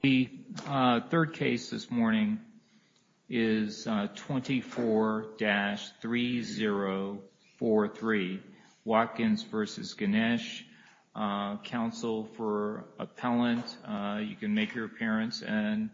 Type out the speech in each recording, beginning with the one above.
The third case this morning is 24-3043 Watkins v. Genesh, counsel for appellant. You can pause for a second.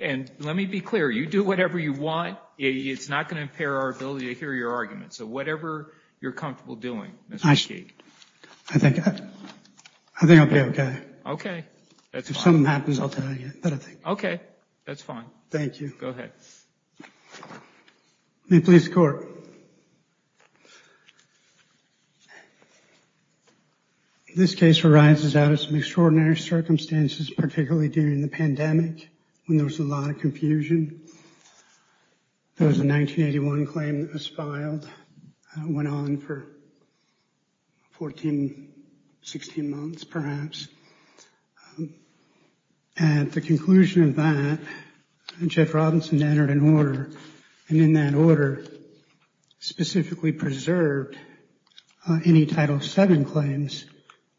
And let me be clear, you do whatever you want, it's not going to impair our ability to hear your argument. So whatever you're comfortable doing, Mr. McKee. I think I'll be okay. Okay, that's fine. If something happens, I'll tell you. Okay, that's fine. Thank you. Go ahead. The police court. This case arises out of some extraordinary circumstances, particularly during the pandemic, when there was a lot of confusion. There was a 1981 claim that was filed, went on for 14, 16 months perhaps. At the conclusion of that, Jeff Robinson entered an order, and in that order specifically preserved any Title VII claims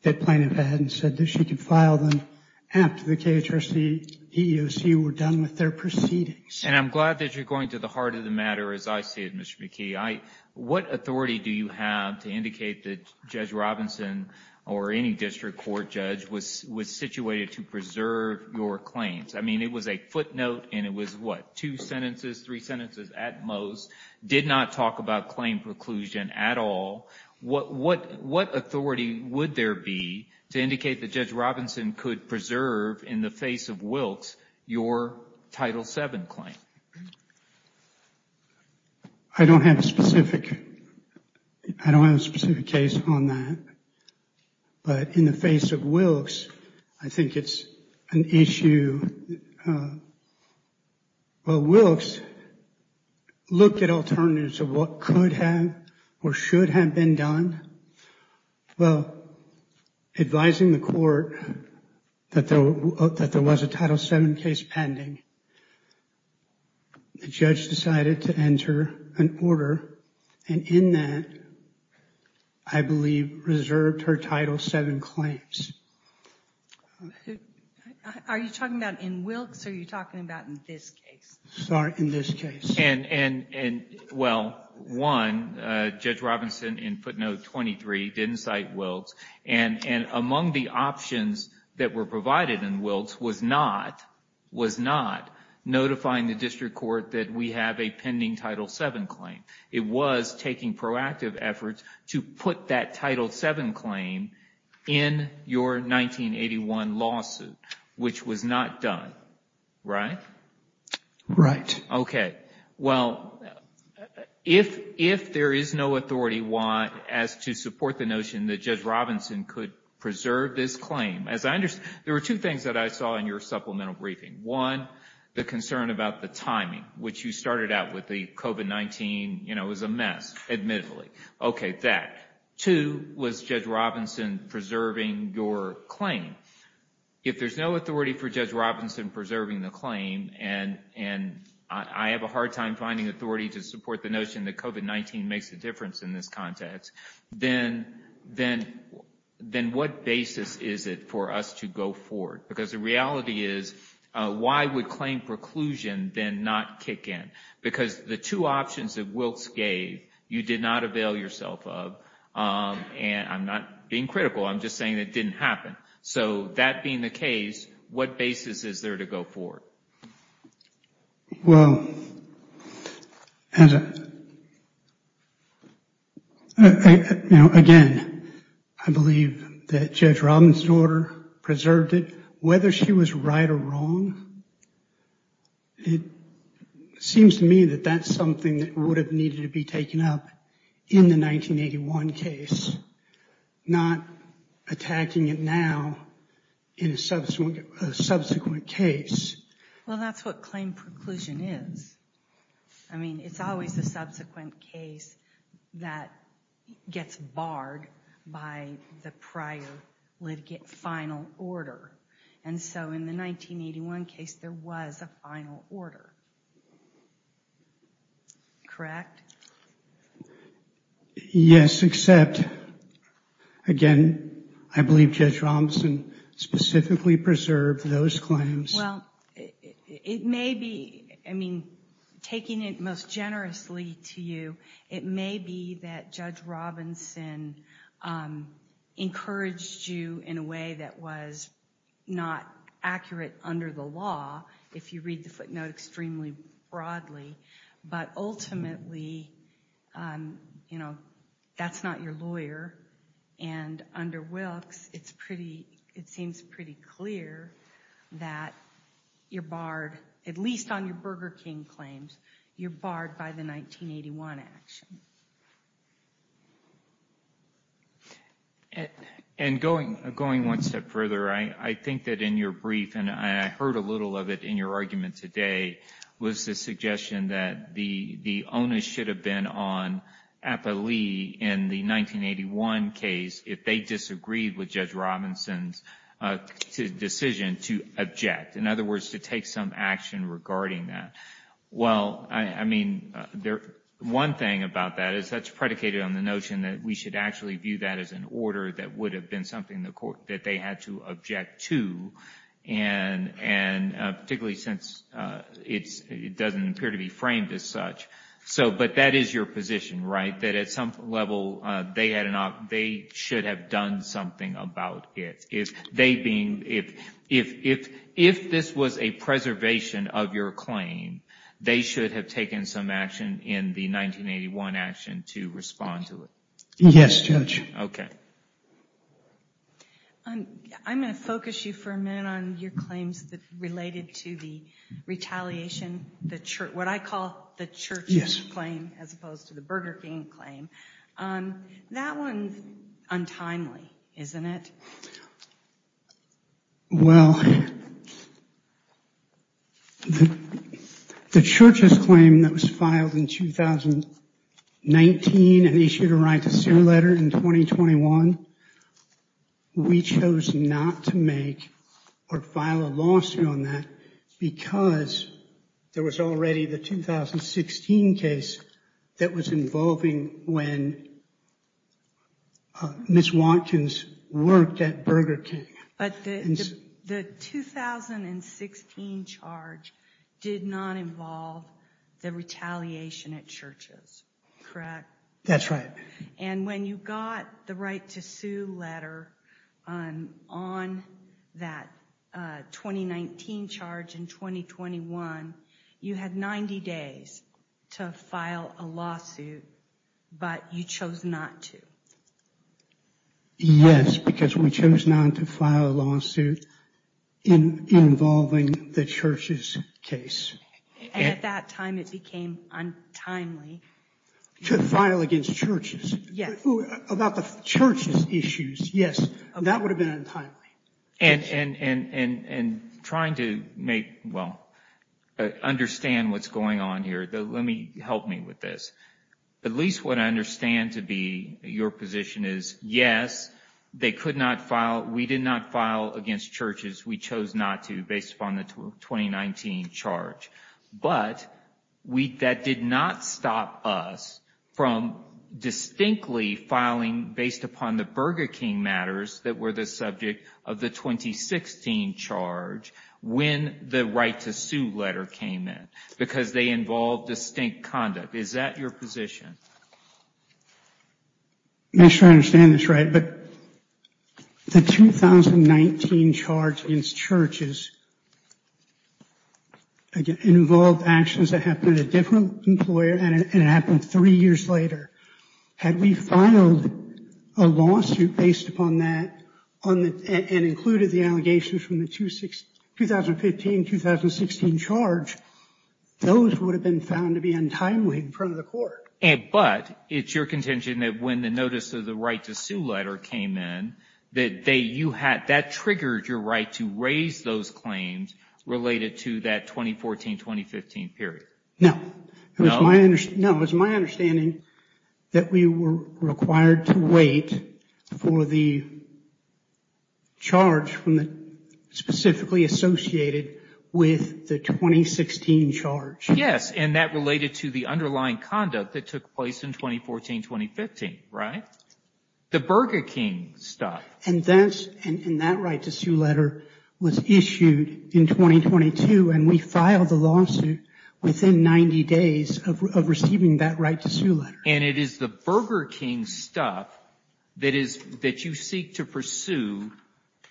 that plaintiff had and said that she could file them after the KHRC, EEOC were done with their proceedings. And I'm glad that you're going to the heart of the matter, as I see it, Mr. McKee. What authority do you have to indicate that Judge Robinson or any district court judge was situated to preserve your claims? I mean, it was a footnote, and it was what, two sentences, three sentences at most, did not talk about claim preclusion at all. What authority would there be to indicate that Judge Robinson could preserve in the face of Wilkes your Title VII claim? I don't have a specific, I don't have a specific case on that. But in the face of Wilkes, I think it's an issue. Well, Wilkes looked at alternatives of what could have or should have been done. Well, advising the court that there was a Title VII case pending, the judge decided to enter an order, and in that, I believe, reserved her Title VII claims. Are you talking about in Wilkes, or are you talking about in this case? Sorry, in this case. Well, one, Judge Robinson, in footnote 23, didn't cite Wilkes. And among the options that were provided in Wilkes was not, was not, notifying the district court that we have a pending Title VII claim. It was taking proactive efforts to put that Title VII claim in your 1981 lawsuit, which was not done. Right? Right. Okay. Well, if, if there is no authority as to support the notion that Judge Robinson could preserve this claim, as I understand, there were two things that I saw in your supplemental briefing. One, the concern about the timing, which you started out with the COVID-19, you know, was a mess, admittedly. Okay, that. Two, was Judge Robinson preserving your claim? If there's no authority for Judge Robinson preserving the claim, and, and I have a hard time finding authority to support the notion that COVID-19 makes a difference in this context, then, then, then what basis is it for us to go forward? Because the reality is, why would claim preclusion then not kick in? Because the two options that Wilkes gave, you did not avail yourself of. And I'm not being critical. I'm just saying it didn't happen. So that being the case, what basis is there to go forward? Well, you know, again, I believe that Judge Robinson's order preserved it, whether she was right or wrong. It seems to me that that's something that would have needed to be taken up in the 1981 case, not attacking it now in a subsequent case. Well, that's what claim preclusion is. I mean, it's always the subsequent case that gets barred by the prior litigate final order. And so in the 1981 case, there was a final order. Correct? Yes, except, again, I believe Judge Robinson specifically preserved those claims. Well, it may be, I mean, taking it most generously to you, it may be that Judge Robinson encouraged you in a way that was not accurate under the law, if you read the footnote extremely broadly. But ultimately, you know, that's not your lawyer. And under Wilkes, it seems pretty clear that you're barred, at least on your Burger King claims, you're barred by the 1981 action. And going one step further, I think that in your brief, and I heard a little of it in your argument today, was the suggestion that the onus should have been on Appalee in the 1981 case if they disagreed with Judge Robinson's decision to object, in other words, to take some action regarding that. Well, I mean, one thing about that is that's predicated on the notion that we should actually view that as an order that would have been something that they had to object to, and particularly since it doesn't appear to be framed as such. But that is your position, right? That at some level, they should have done something about it. If this was a preservation of your claim, they should have taken some action in the 1981 action to respond to it. Yes, Judge. Okay. I'm going to focus you for a minute on your claims related to the retaliation, what I call the Church's claim as opposed to the Burger King claim. That one's untimely, isn't it? Well, the Church's claim that was filed in 2019 and issued a right to sue letter in 2021, we chose not to make or file a lawsuit on that because there was already the 2016 case that was involving when Ms. Watkins worked at Burger King. But the 2016 charge did not involve the retaliation at Church's, correct? That's right. And when you got the right to sue letter on that 2019 charge in 2021, you had 90 days to file a lawsuit, but you chose not to. Yes, because we chose not to file a lawsuit involving the Church's case. And at that time, it became untimely. To file against Church's? Yes. About the Church's issues, yes, that would have been untimely. And trying to make, well, understand what's going on here, let me, help me with this. At least what I understand to be your position is, yes, they could not file, we did not file against Church's, we chose not to based upon the 2019 charge. But that did not stop us from distinctly filing based upon the Burger King matters that were the subject of the 2016 charge when the right to sue letter came in, because they involved distinct conduct. Is that your position? I'm not sure I understand this right, but the 2019 charge against Church's involved actions that happened at a different employer, and it happened three years later. Had we filed a lawsuit based upon that and included the allegations from the 2015-2016 charge, those would have been found to be untimely in front of the court. But it's your contention that when the notice of the right to sue letter came in, that you had, that triggered your right to raise those claims related to that 2014-2015 period. No. No? It was my understanding that we were required to wait for the charge specifically associated with the 2016 charge. Yes, and that related to the underlying conduct that took place in 2014-2015, right? The Burger King stuff. And that right to sue letter was issued in 2022, and we filed the lawsuit within 90 days of receiving that right to sue letter. And it is the Burger King stuff that you seek to pursue,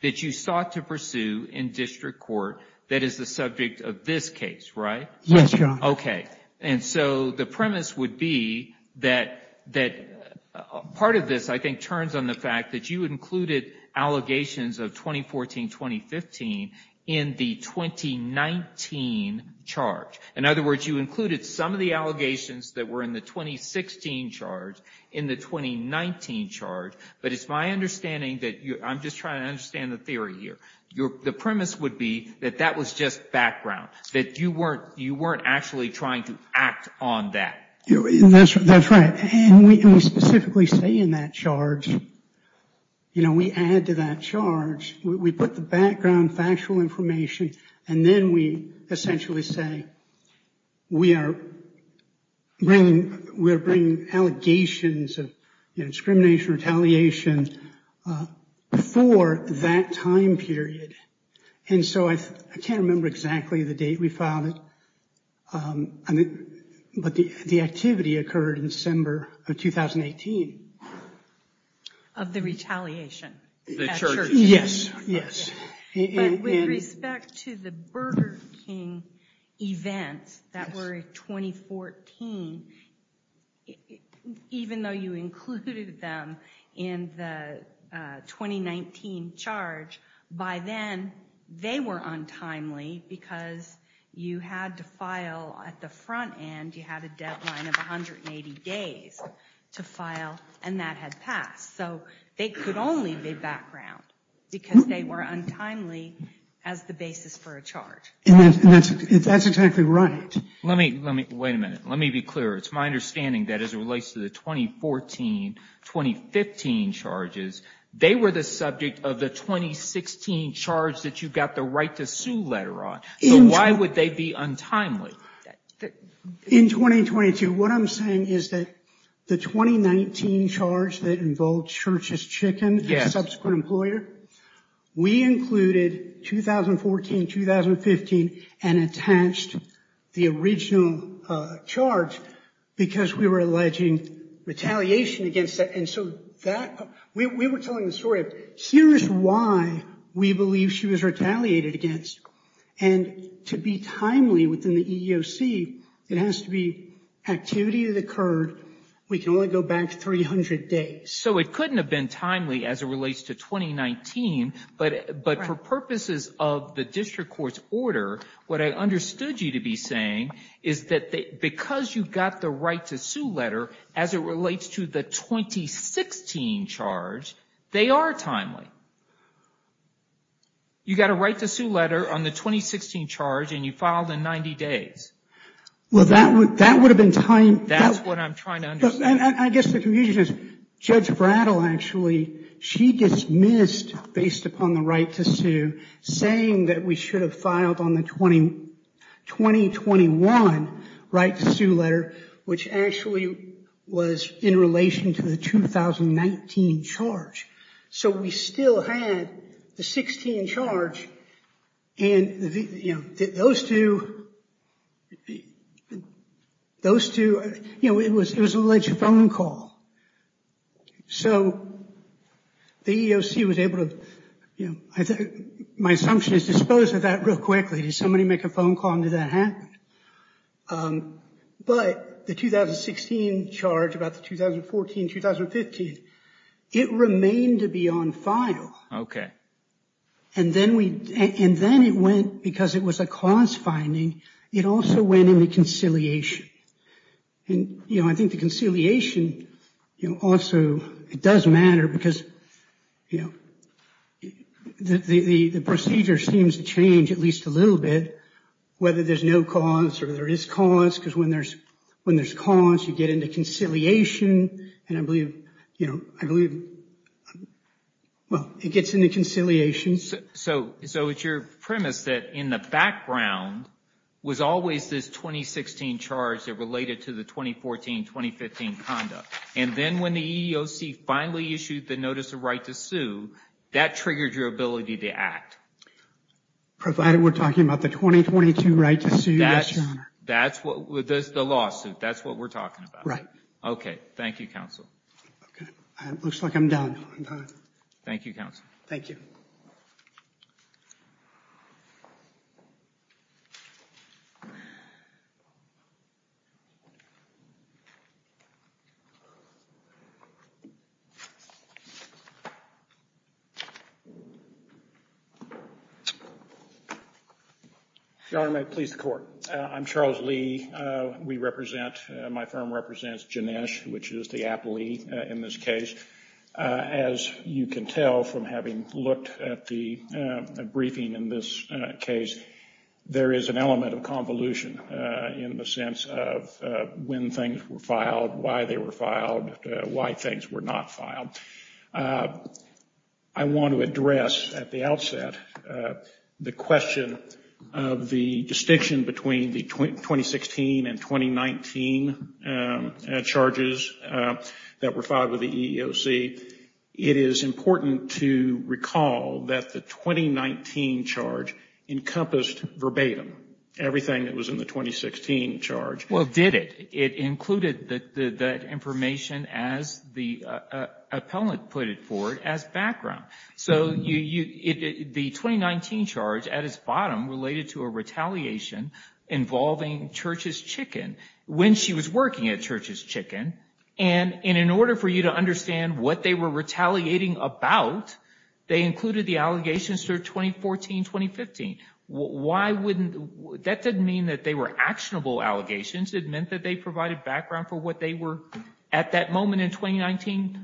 that you sought to pursue in district court, that is the subject of this case, right? Yes, Your Honor. Okay. And so the premise would be that part of this, I think, turns on the fact that you included allegations of 2014-2015 in the 2019 charge. In other words, you included some of the allegations that were in the 2016 charge in the 2019 charge, but it's my understanding that you're, I'm just trying to understand the theory here. The premise would be that that was just background, that you weren't actually trying to act on that. That's right, and we specifically say in that charge, you know, we add to that charge, we put the background factual information, and then we essentially say we are bringing allegations of discrimination, retaliation for that time period. And so I can't remember exactly the date we filed it, but the activity occurred in December of 2018. Of the retaliation. The charge. Yes, yes. But with respect to the Burger King events that were 2014, even though you included them in the 2019 charge, by then, they were untimely, because you had to file at the front end, you had a deadline of 180 days to file, and that had passed. So they could only be background, because they were untimely as the basis for a charge. And that's exactly right. Let me, let me, wait a minute. Let me be clear. It's my understanding that as it relates to the 2014, 2015 charges, they were the subject of the 2016 charge that you got the right to sue letter on. So why would they be untimely? In 2022, what I'm saying is that the 2019 charge that involved Church's Chicken, the subsequent employer, we included 2014, 2015, and attached the original charge because we were alleging retaliation against that. And so that, we were telling the story, here's why we believe she was retaliated against. And to be timely within the EEOC, it has to be activity that occurred. We can only go back 300 days. So it couldn't have been timely as it relates to 2019, but for purposes of the district court's order, what I understood you to be saying is that because you got the right to sue letter as it relates to the 2016 charge, they are timely. You got a right to sue letter on the 2016 charge and you filed in 90 days. Well, that would, that would have been timely. That's what I'm trying to understand. I guess the confusion is Judge Brattle actually, she dismissed, based upon the right to sue, saying that we should have filed on the 2021 right to sue letter, which actually was in relation to the 2019 charge. So we still had the 16 charge and, you know, those two, those two, you know, it was alleged phone call. So the EEOC was able to, you know, my assumption is dispose of that real quickly. Did somebody make a phone call and did that happen? But the 2016 charge, about the 2014, 2015, it remained to be on file. Okay. And then we, and then it went, because it was a cause finding, it also went into conciliation. And, you know, I think the conciliation, you know, also, it does matter because, you know, the procedure seems to change at least a little bit, whether there's no cause or there is cause. Because when there's, when there's cause, you get into conciliation. And I believe, you know, I believe, well, it gets into conciliation. So, so it's your premise that in the background was always this 2016 charge that related to the 2014, 2015 conduct. And then when the EEOC finally issued the notice of right to sue, that triggered your ability to act. Provided we're talking about the 2022 right to sue, yes, Your Honor. That's what, the lawsuit, that's what we're talking about. Right. Okay. Thank you, counsel. Okay. It looks like I'm done. Thank you, counsel. Thank you. Your Honor. Your Honor, may it please the Court. I'm Charles Lee. We represent, my firm represents Ginesh, which is the aptly in this case. As you can tell from having looked at the briefing in this case, there is an element of convolution in the sense of when things were filed, why they were filed, why things were not filed. I want to address at the outset the question of the distinction between the 2016 and 2019 charges that were filed with the EEOC. It is important to recall that the 2019 charge encompassed verbatim everything that was in the 2016 charge. Well, it did. It included that information as the appellant put it for it as background. So the 2019 charge at its bottom related to a retaliation involving Church's Chicken. When she was working at Church's Chicken. And in order for you to understand what they were retaliating about, they included the allegations through 2014-2015. Why wouldn't, that didn't mean that they were actionable allegations. It meant that they provided background for what they were at that moment in 2019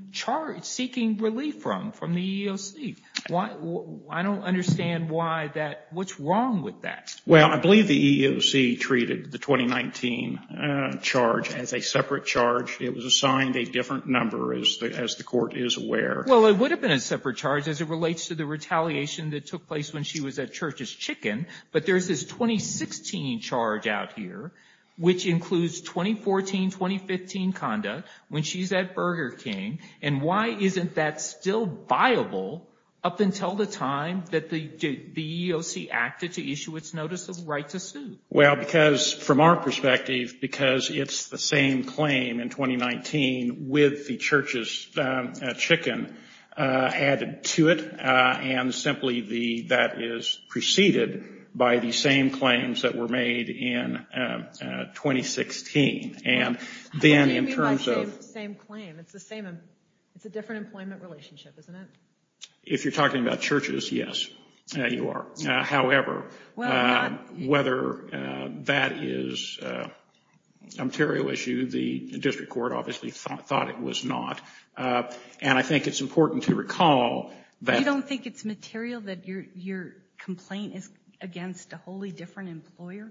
seeking relief from, from the EEOC. I don't understand why that, what's wrong with that. Well, I believe the EEOC treated the 2019 charge as a separate charge. It was assigned a different number as the court is aware. Well, it would have been a separate charge as it relates to the retaliation that took place when she was at Church's Chicken. But there's this 2016 charge out here, which includes 2014-2015 conduct when she's at Burger King. And why isn't that still viable up until the time that the EEOC acted to issue its notice of right to sue? Well, because from our perspective, because it's the same claim in 2019 with the Church's Chicken added to it. And simply that is preceded by the same claims that were made in 2016. It's the same, it's a different employment relationship, isn't it? If you're talking about Church's, yes, you are. However, whether that is a material issue, the district court obviously thought it was not. And I think it's important to recall that. You don't think it's material that your complaint is against a wholly different employer?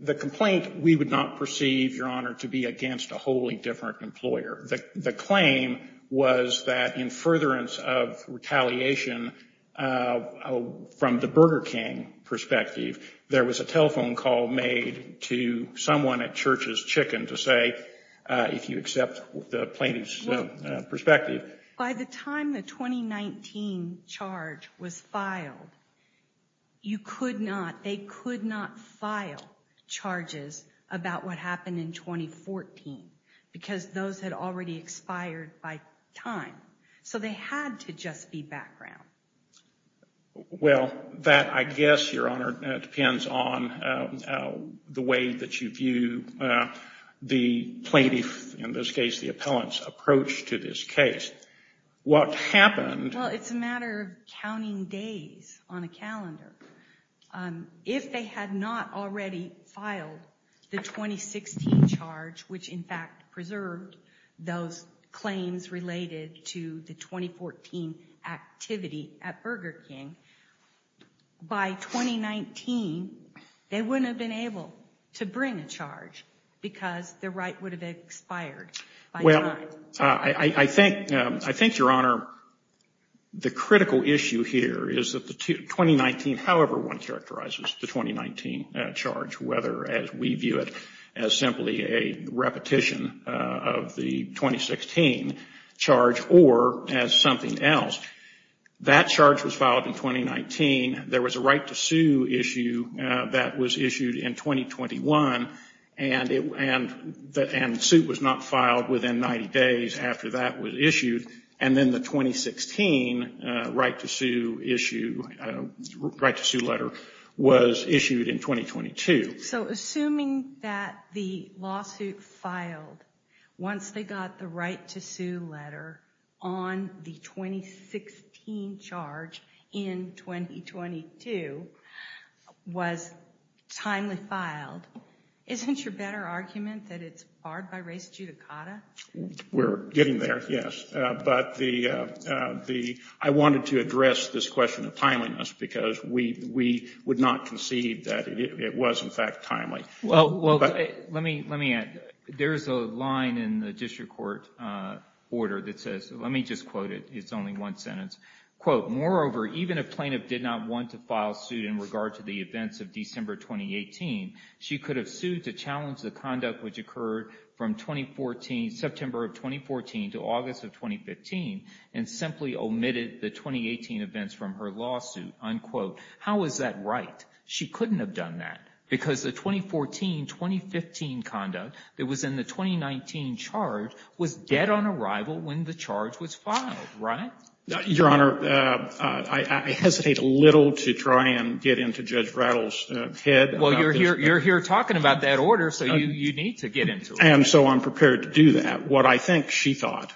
The complaint, we would not perceive, Your Honor, to be against a wholly different employer. The claim was that in furtherance of retaliation from the Burger King perspective, there was a telephone call made to someone at Church's Chicken to say, if you accept the plaintiff's perspective. By the time the 2019 charge was filed, you could not, they could not file charges about what happened in 2014. Because those had already expired by time. So they had to just be background. Well, that, I guess, Your Honor, depends on the way that you view the plaintiff, in this case the appellant's, approach to this case. What happened... Well, it's a matter of counting days on a calendar. If they had not already filed the 2016 charge, which in fact preserved those claims related to the 2014 activity at Burger King, by 2019, they wouldn't have been able to bring a charge because the right would have expired. Well, I think, Your Honor, the critical issue here is that the 2019, however one characterizes the 2019 charge, whether as we view it as simply a repetition of the 2016 charge or as something else, that charge was filed in 2019. There was a right to sue issue that was issued in 2021, and the suit was not filed within 90 days after that was issued. And then the 2016 right to sue issue, right to sue letter was issued in 2022. So assuming that the lawsuit filed once they got the right to sue letter on the 2016 charge in 2022 was timely filed, isn't your better argument that it's barred by res judicata? We're getting there, yes. But I wanted to address this question of timeliness because we would not concede that it was in fact timely. Well, let me add. There is a line in the district court order that says, let me just quote it. It's only one sentence, quote, moreover, even if plaintiff did not want to file suit in regard to the events of December 2018, she could have sued to challenge the conduct which occurred from 2014, September of 2014 to August of 2015, and simply omitted the 2018 events from her lawsuit, unquote. How is that right? She couldn't have done that because the 2014-2015 conduct that was in the 2019 charge was dead on arrival when the charge was filed, right? Your Honor, I hesitate a little to try and get into Judge Rattle's head. Well, you're here talking about that order, so you need to get into it. And so I'm prepared to do that. What I think she thought,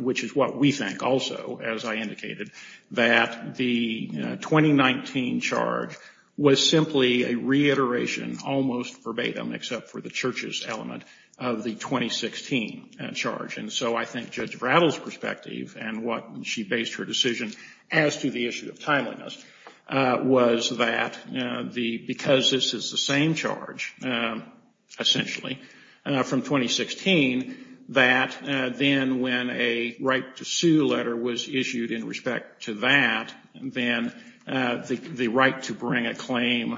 which is what we think also, as I indicated, that the 2019 charge was simply a reiteration, almost verbatim except for the church's element, of the 2016 charge. And so I think Judge Rattle's perspective and what she based her decision as to the issue of timeliness was that because this is the same charge, essentially, from 2016, that then when a right to sue letter was issued in respect to that, then the right to bring a claim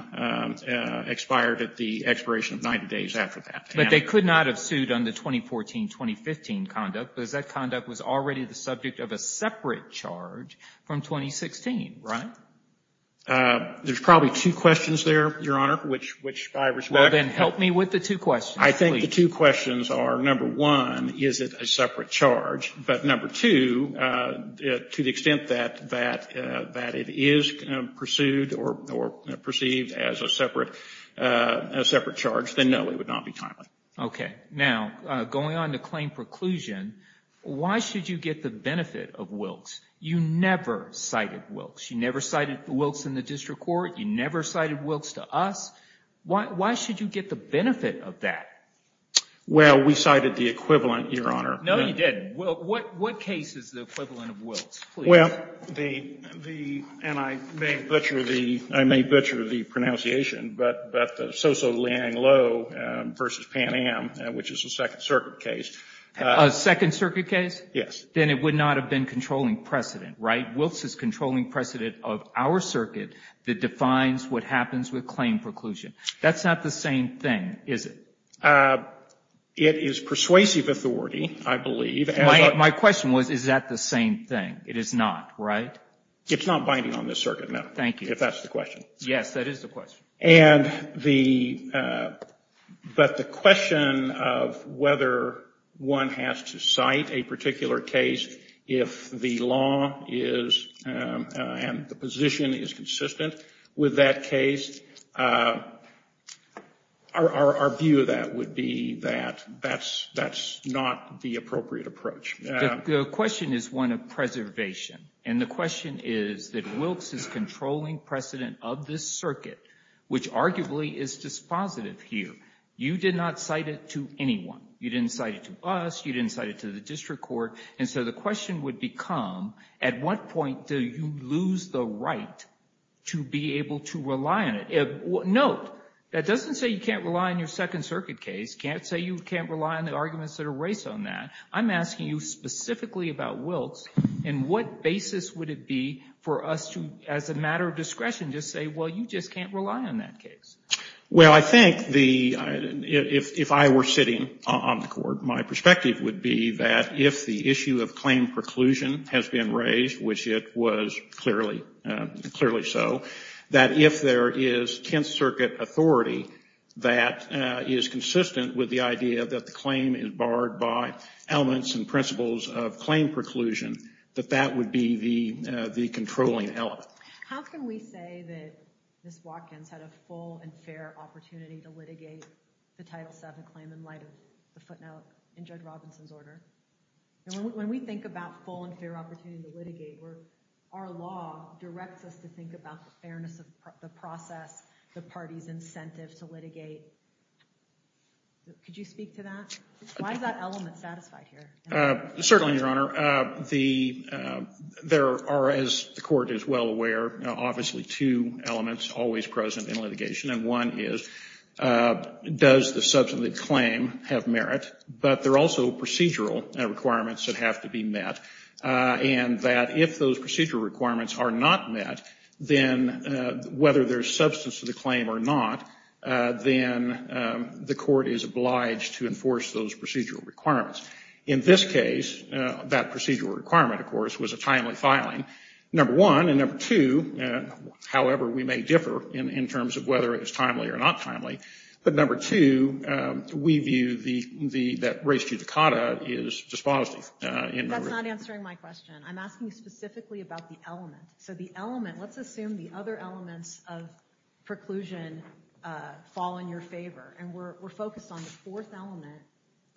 expired at the expiration of 90 days after that. But they could not have sued on the 2014-2015 conduct because that conduct was already the subject of a separate charge from 2016, right? There's probably two questions there, Your Honor, which I respect. Well, then help me with the two questions, please. I think the two questions are, number one, is it a separate charge? But number two, to the extent that it is pursued or perceived as a separate charge, then no, it would not be timely. Okay. Now, going on to claim preclusion, why should you get the benefit of Wilkes? You never cited Wilkes. You never cited Wilkes in the district court. You never cited Wilkes to us. Why should you get the benefit of that? Well, we cited the equivalent, Your Honor. No, you didn't. What case is the equivalent of Wilkes? Well, the – and I may butcher the pronunciation, but the Soso-Liang Lo versus Pan Am, which is a Second Circuit case. A Second Circuit case? Yes. Then it would not have been controlling precedent, right? Wilkes is controlling precedent of our circuit that defines what happens with claim preclusion. That's not the same thing, is it? It is persuasive authority, I believe. My question was, is that the same thing? It is not, right? It's not binding on this circuit, no. Thank you. If that's the question. Yes, that is the question. And the – but the question of whether one has to cite a particular case if the law is – and the position is consistent with that case, our view of that would be that that's not the appropriate approach. The question is one of preservation. And the question is that Wilkes is controlling precedent of this circuit, which arguably is dispositive here. You did not cite it to anyone. You didn't cite it to us. You didn't cite it to the district court. And so the question would become, at what point do you lose the right to be able to rely on it? Note, that doesn't say you can't rely on your Second Circuit case. Can't say you can't rely on the arguments that are raised on that. I'm asking you specifically about Wilkes, and what basis would it be for us to, as a matter of discretion, just say, well, you just can't rely on that case? Well, I think the – if I were sitting on the court, my perspective would be that if the issue of claim preclusion has been raised, which it was clearly so, that if there is Tenth Circuit authority that is consistent with the idea that the claim is barred by elements and principles of claim preclusion, that that would be the controlling element. How can we say that Ms. Watkins had a full and fair opportunity to litigate the Title VII claim in light of the footnote in Judge Robinson's order? When we think about full and fair opportunity to litigate, our law directs us to think about the fairness of the process, the party's incentive to litigate. Could you speak to that? Why is that element satisfied here? Certainly, Your Honor. There are, as the court is well aware, obviously two elements always present in litigation. And one is, does the substantive claim have merit? But there are also procedural requirements that have to be met. And that if those procedural requirements are not met, then whether there is substance to the claim or not, then the court is obliged to enforce those procedural requirements. In this case, that procedural requirement, of course, was a timely filing, number one. And number two, however we may differ in terms of whether it is timely or not timely, but number two, we view that res judicata is dispositive. That's not answering my question. I'm asking specifically about the element. So the element, let's assume the other elements of preclusion fall in your favor. And we're focused on the fourth element,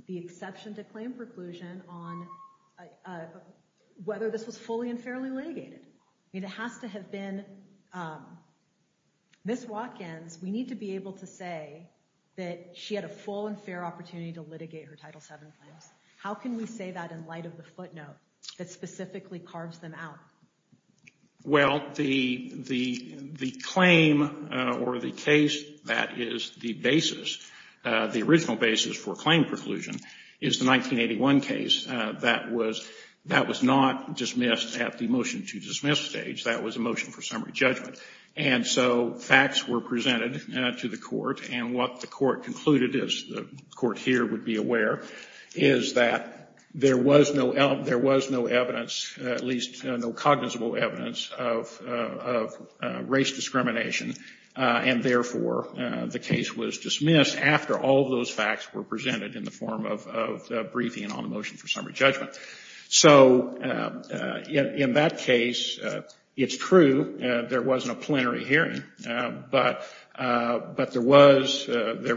the exception to claim preclusion on whether this was fully and fairly litigated. It has to have been. Ms. Watkins, we need to be able to say that she had a full and fair opportunity to litigate her Title VII claims. How can we say that in light of the footnote that specifically carves them out? Well, the claim or the case that is the basis, the original basis for claim preclusion, is the 1981 case. That was not dismissed at the motion to dismiss stage. That was a motion for summary judgment. And so facts were presented to the court. And what the court concluded, as the court here would be aware, is that there was no evidence, at least no cognizable evidence, of race discrimination. And therefore, the case was dismissed after all of those facts were presented in the form of briefing on the motion for summary judgment. So in that case, it's true. There wasn't a plenary hearing. But there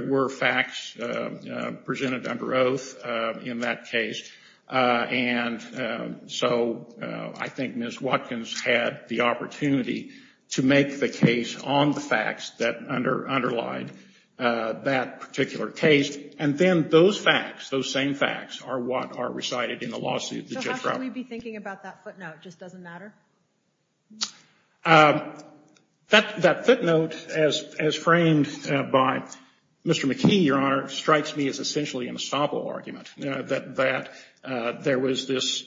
were facts presented under oath in that case. And so I think Ms. Watkins had the opportunity to make the case on the facts that underlined that particular case. And then those facts, those same facts, are what are recited in the lawsuit. So how should we be thinking about that footnote? It just doesn't matter? That footnote, as framed by Mr. McKee, Your Honor, strikes me as essentially an ensemble argument. That there was this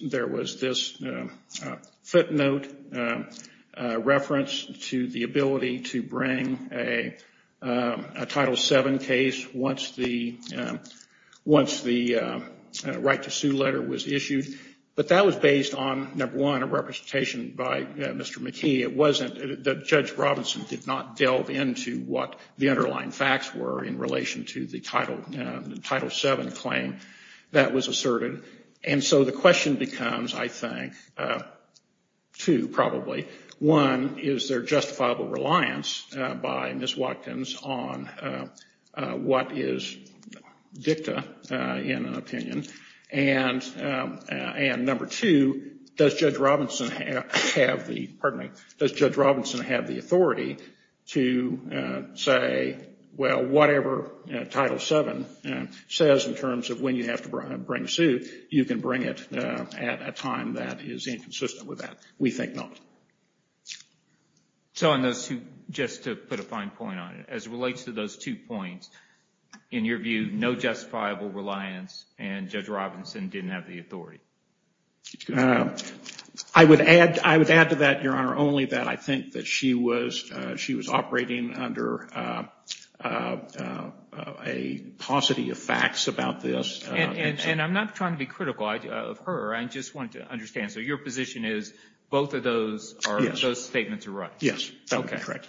footnote reference to the ability to bring a Title VII case once the right to sue letter was issued. But that was based on, number one, a representation by Mr. McKee. It wasn't that Judge Robinson did not delve into what the underlying facts were in relation to the Title VII claim. That was asserted. And so the question becomes, I think, two probably. One, is there justifiable reliance by Ms. Watkins on what is dicta in an opinion? And number two, does Judge Robinson have the authority to say, well, whatever Title VII says in terms of when you have to bring a suit, you can bring it at a time that is inconsistent with that. We think not. So on those two, just to put a fine point on it, as it relates to those two points, in your view, no justifiable reliance and Judge Robinson didn't have the authority. I would add to that, Your Honor, only that I think that she was operating under a paucity of facts about this. And I'm not trying to be critical of her. I just wanted to understand. So your position is both of those statements are right? Yes. That would be correct.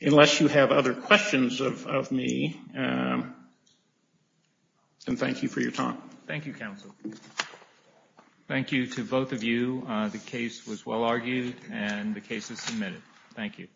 Unless you have other questions of me, then thank you for your time. Thank you, counsel. Thank you to both of you. The case was well argued and the case is submitted. Thank you.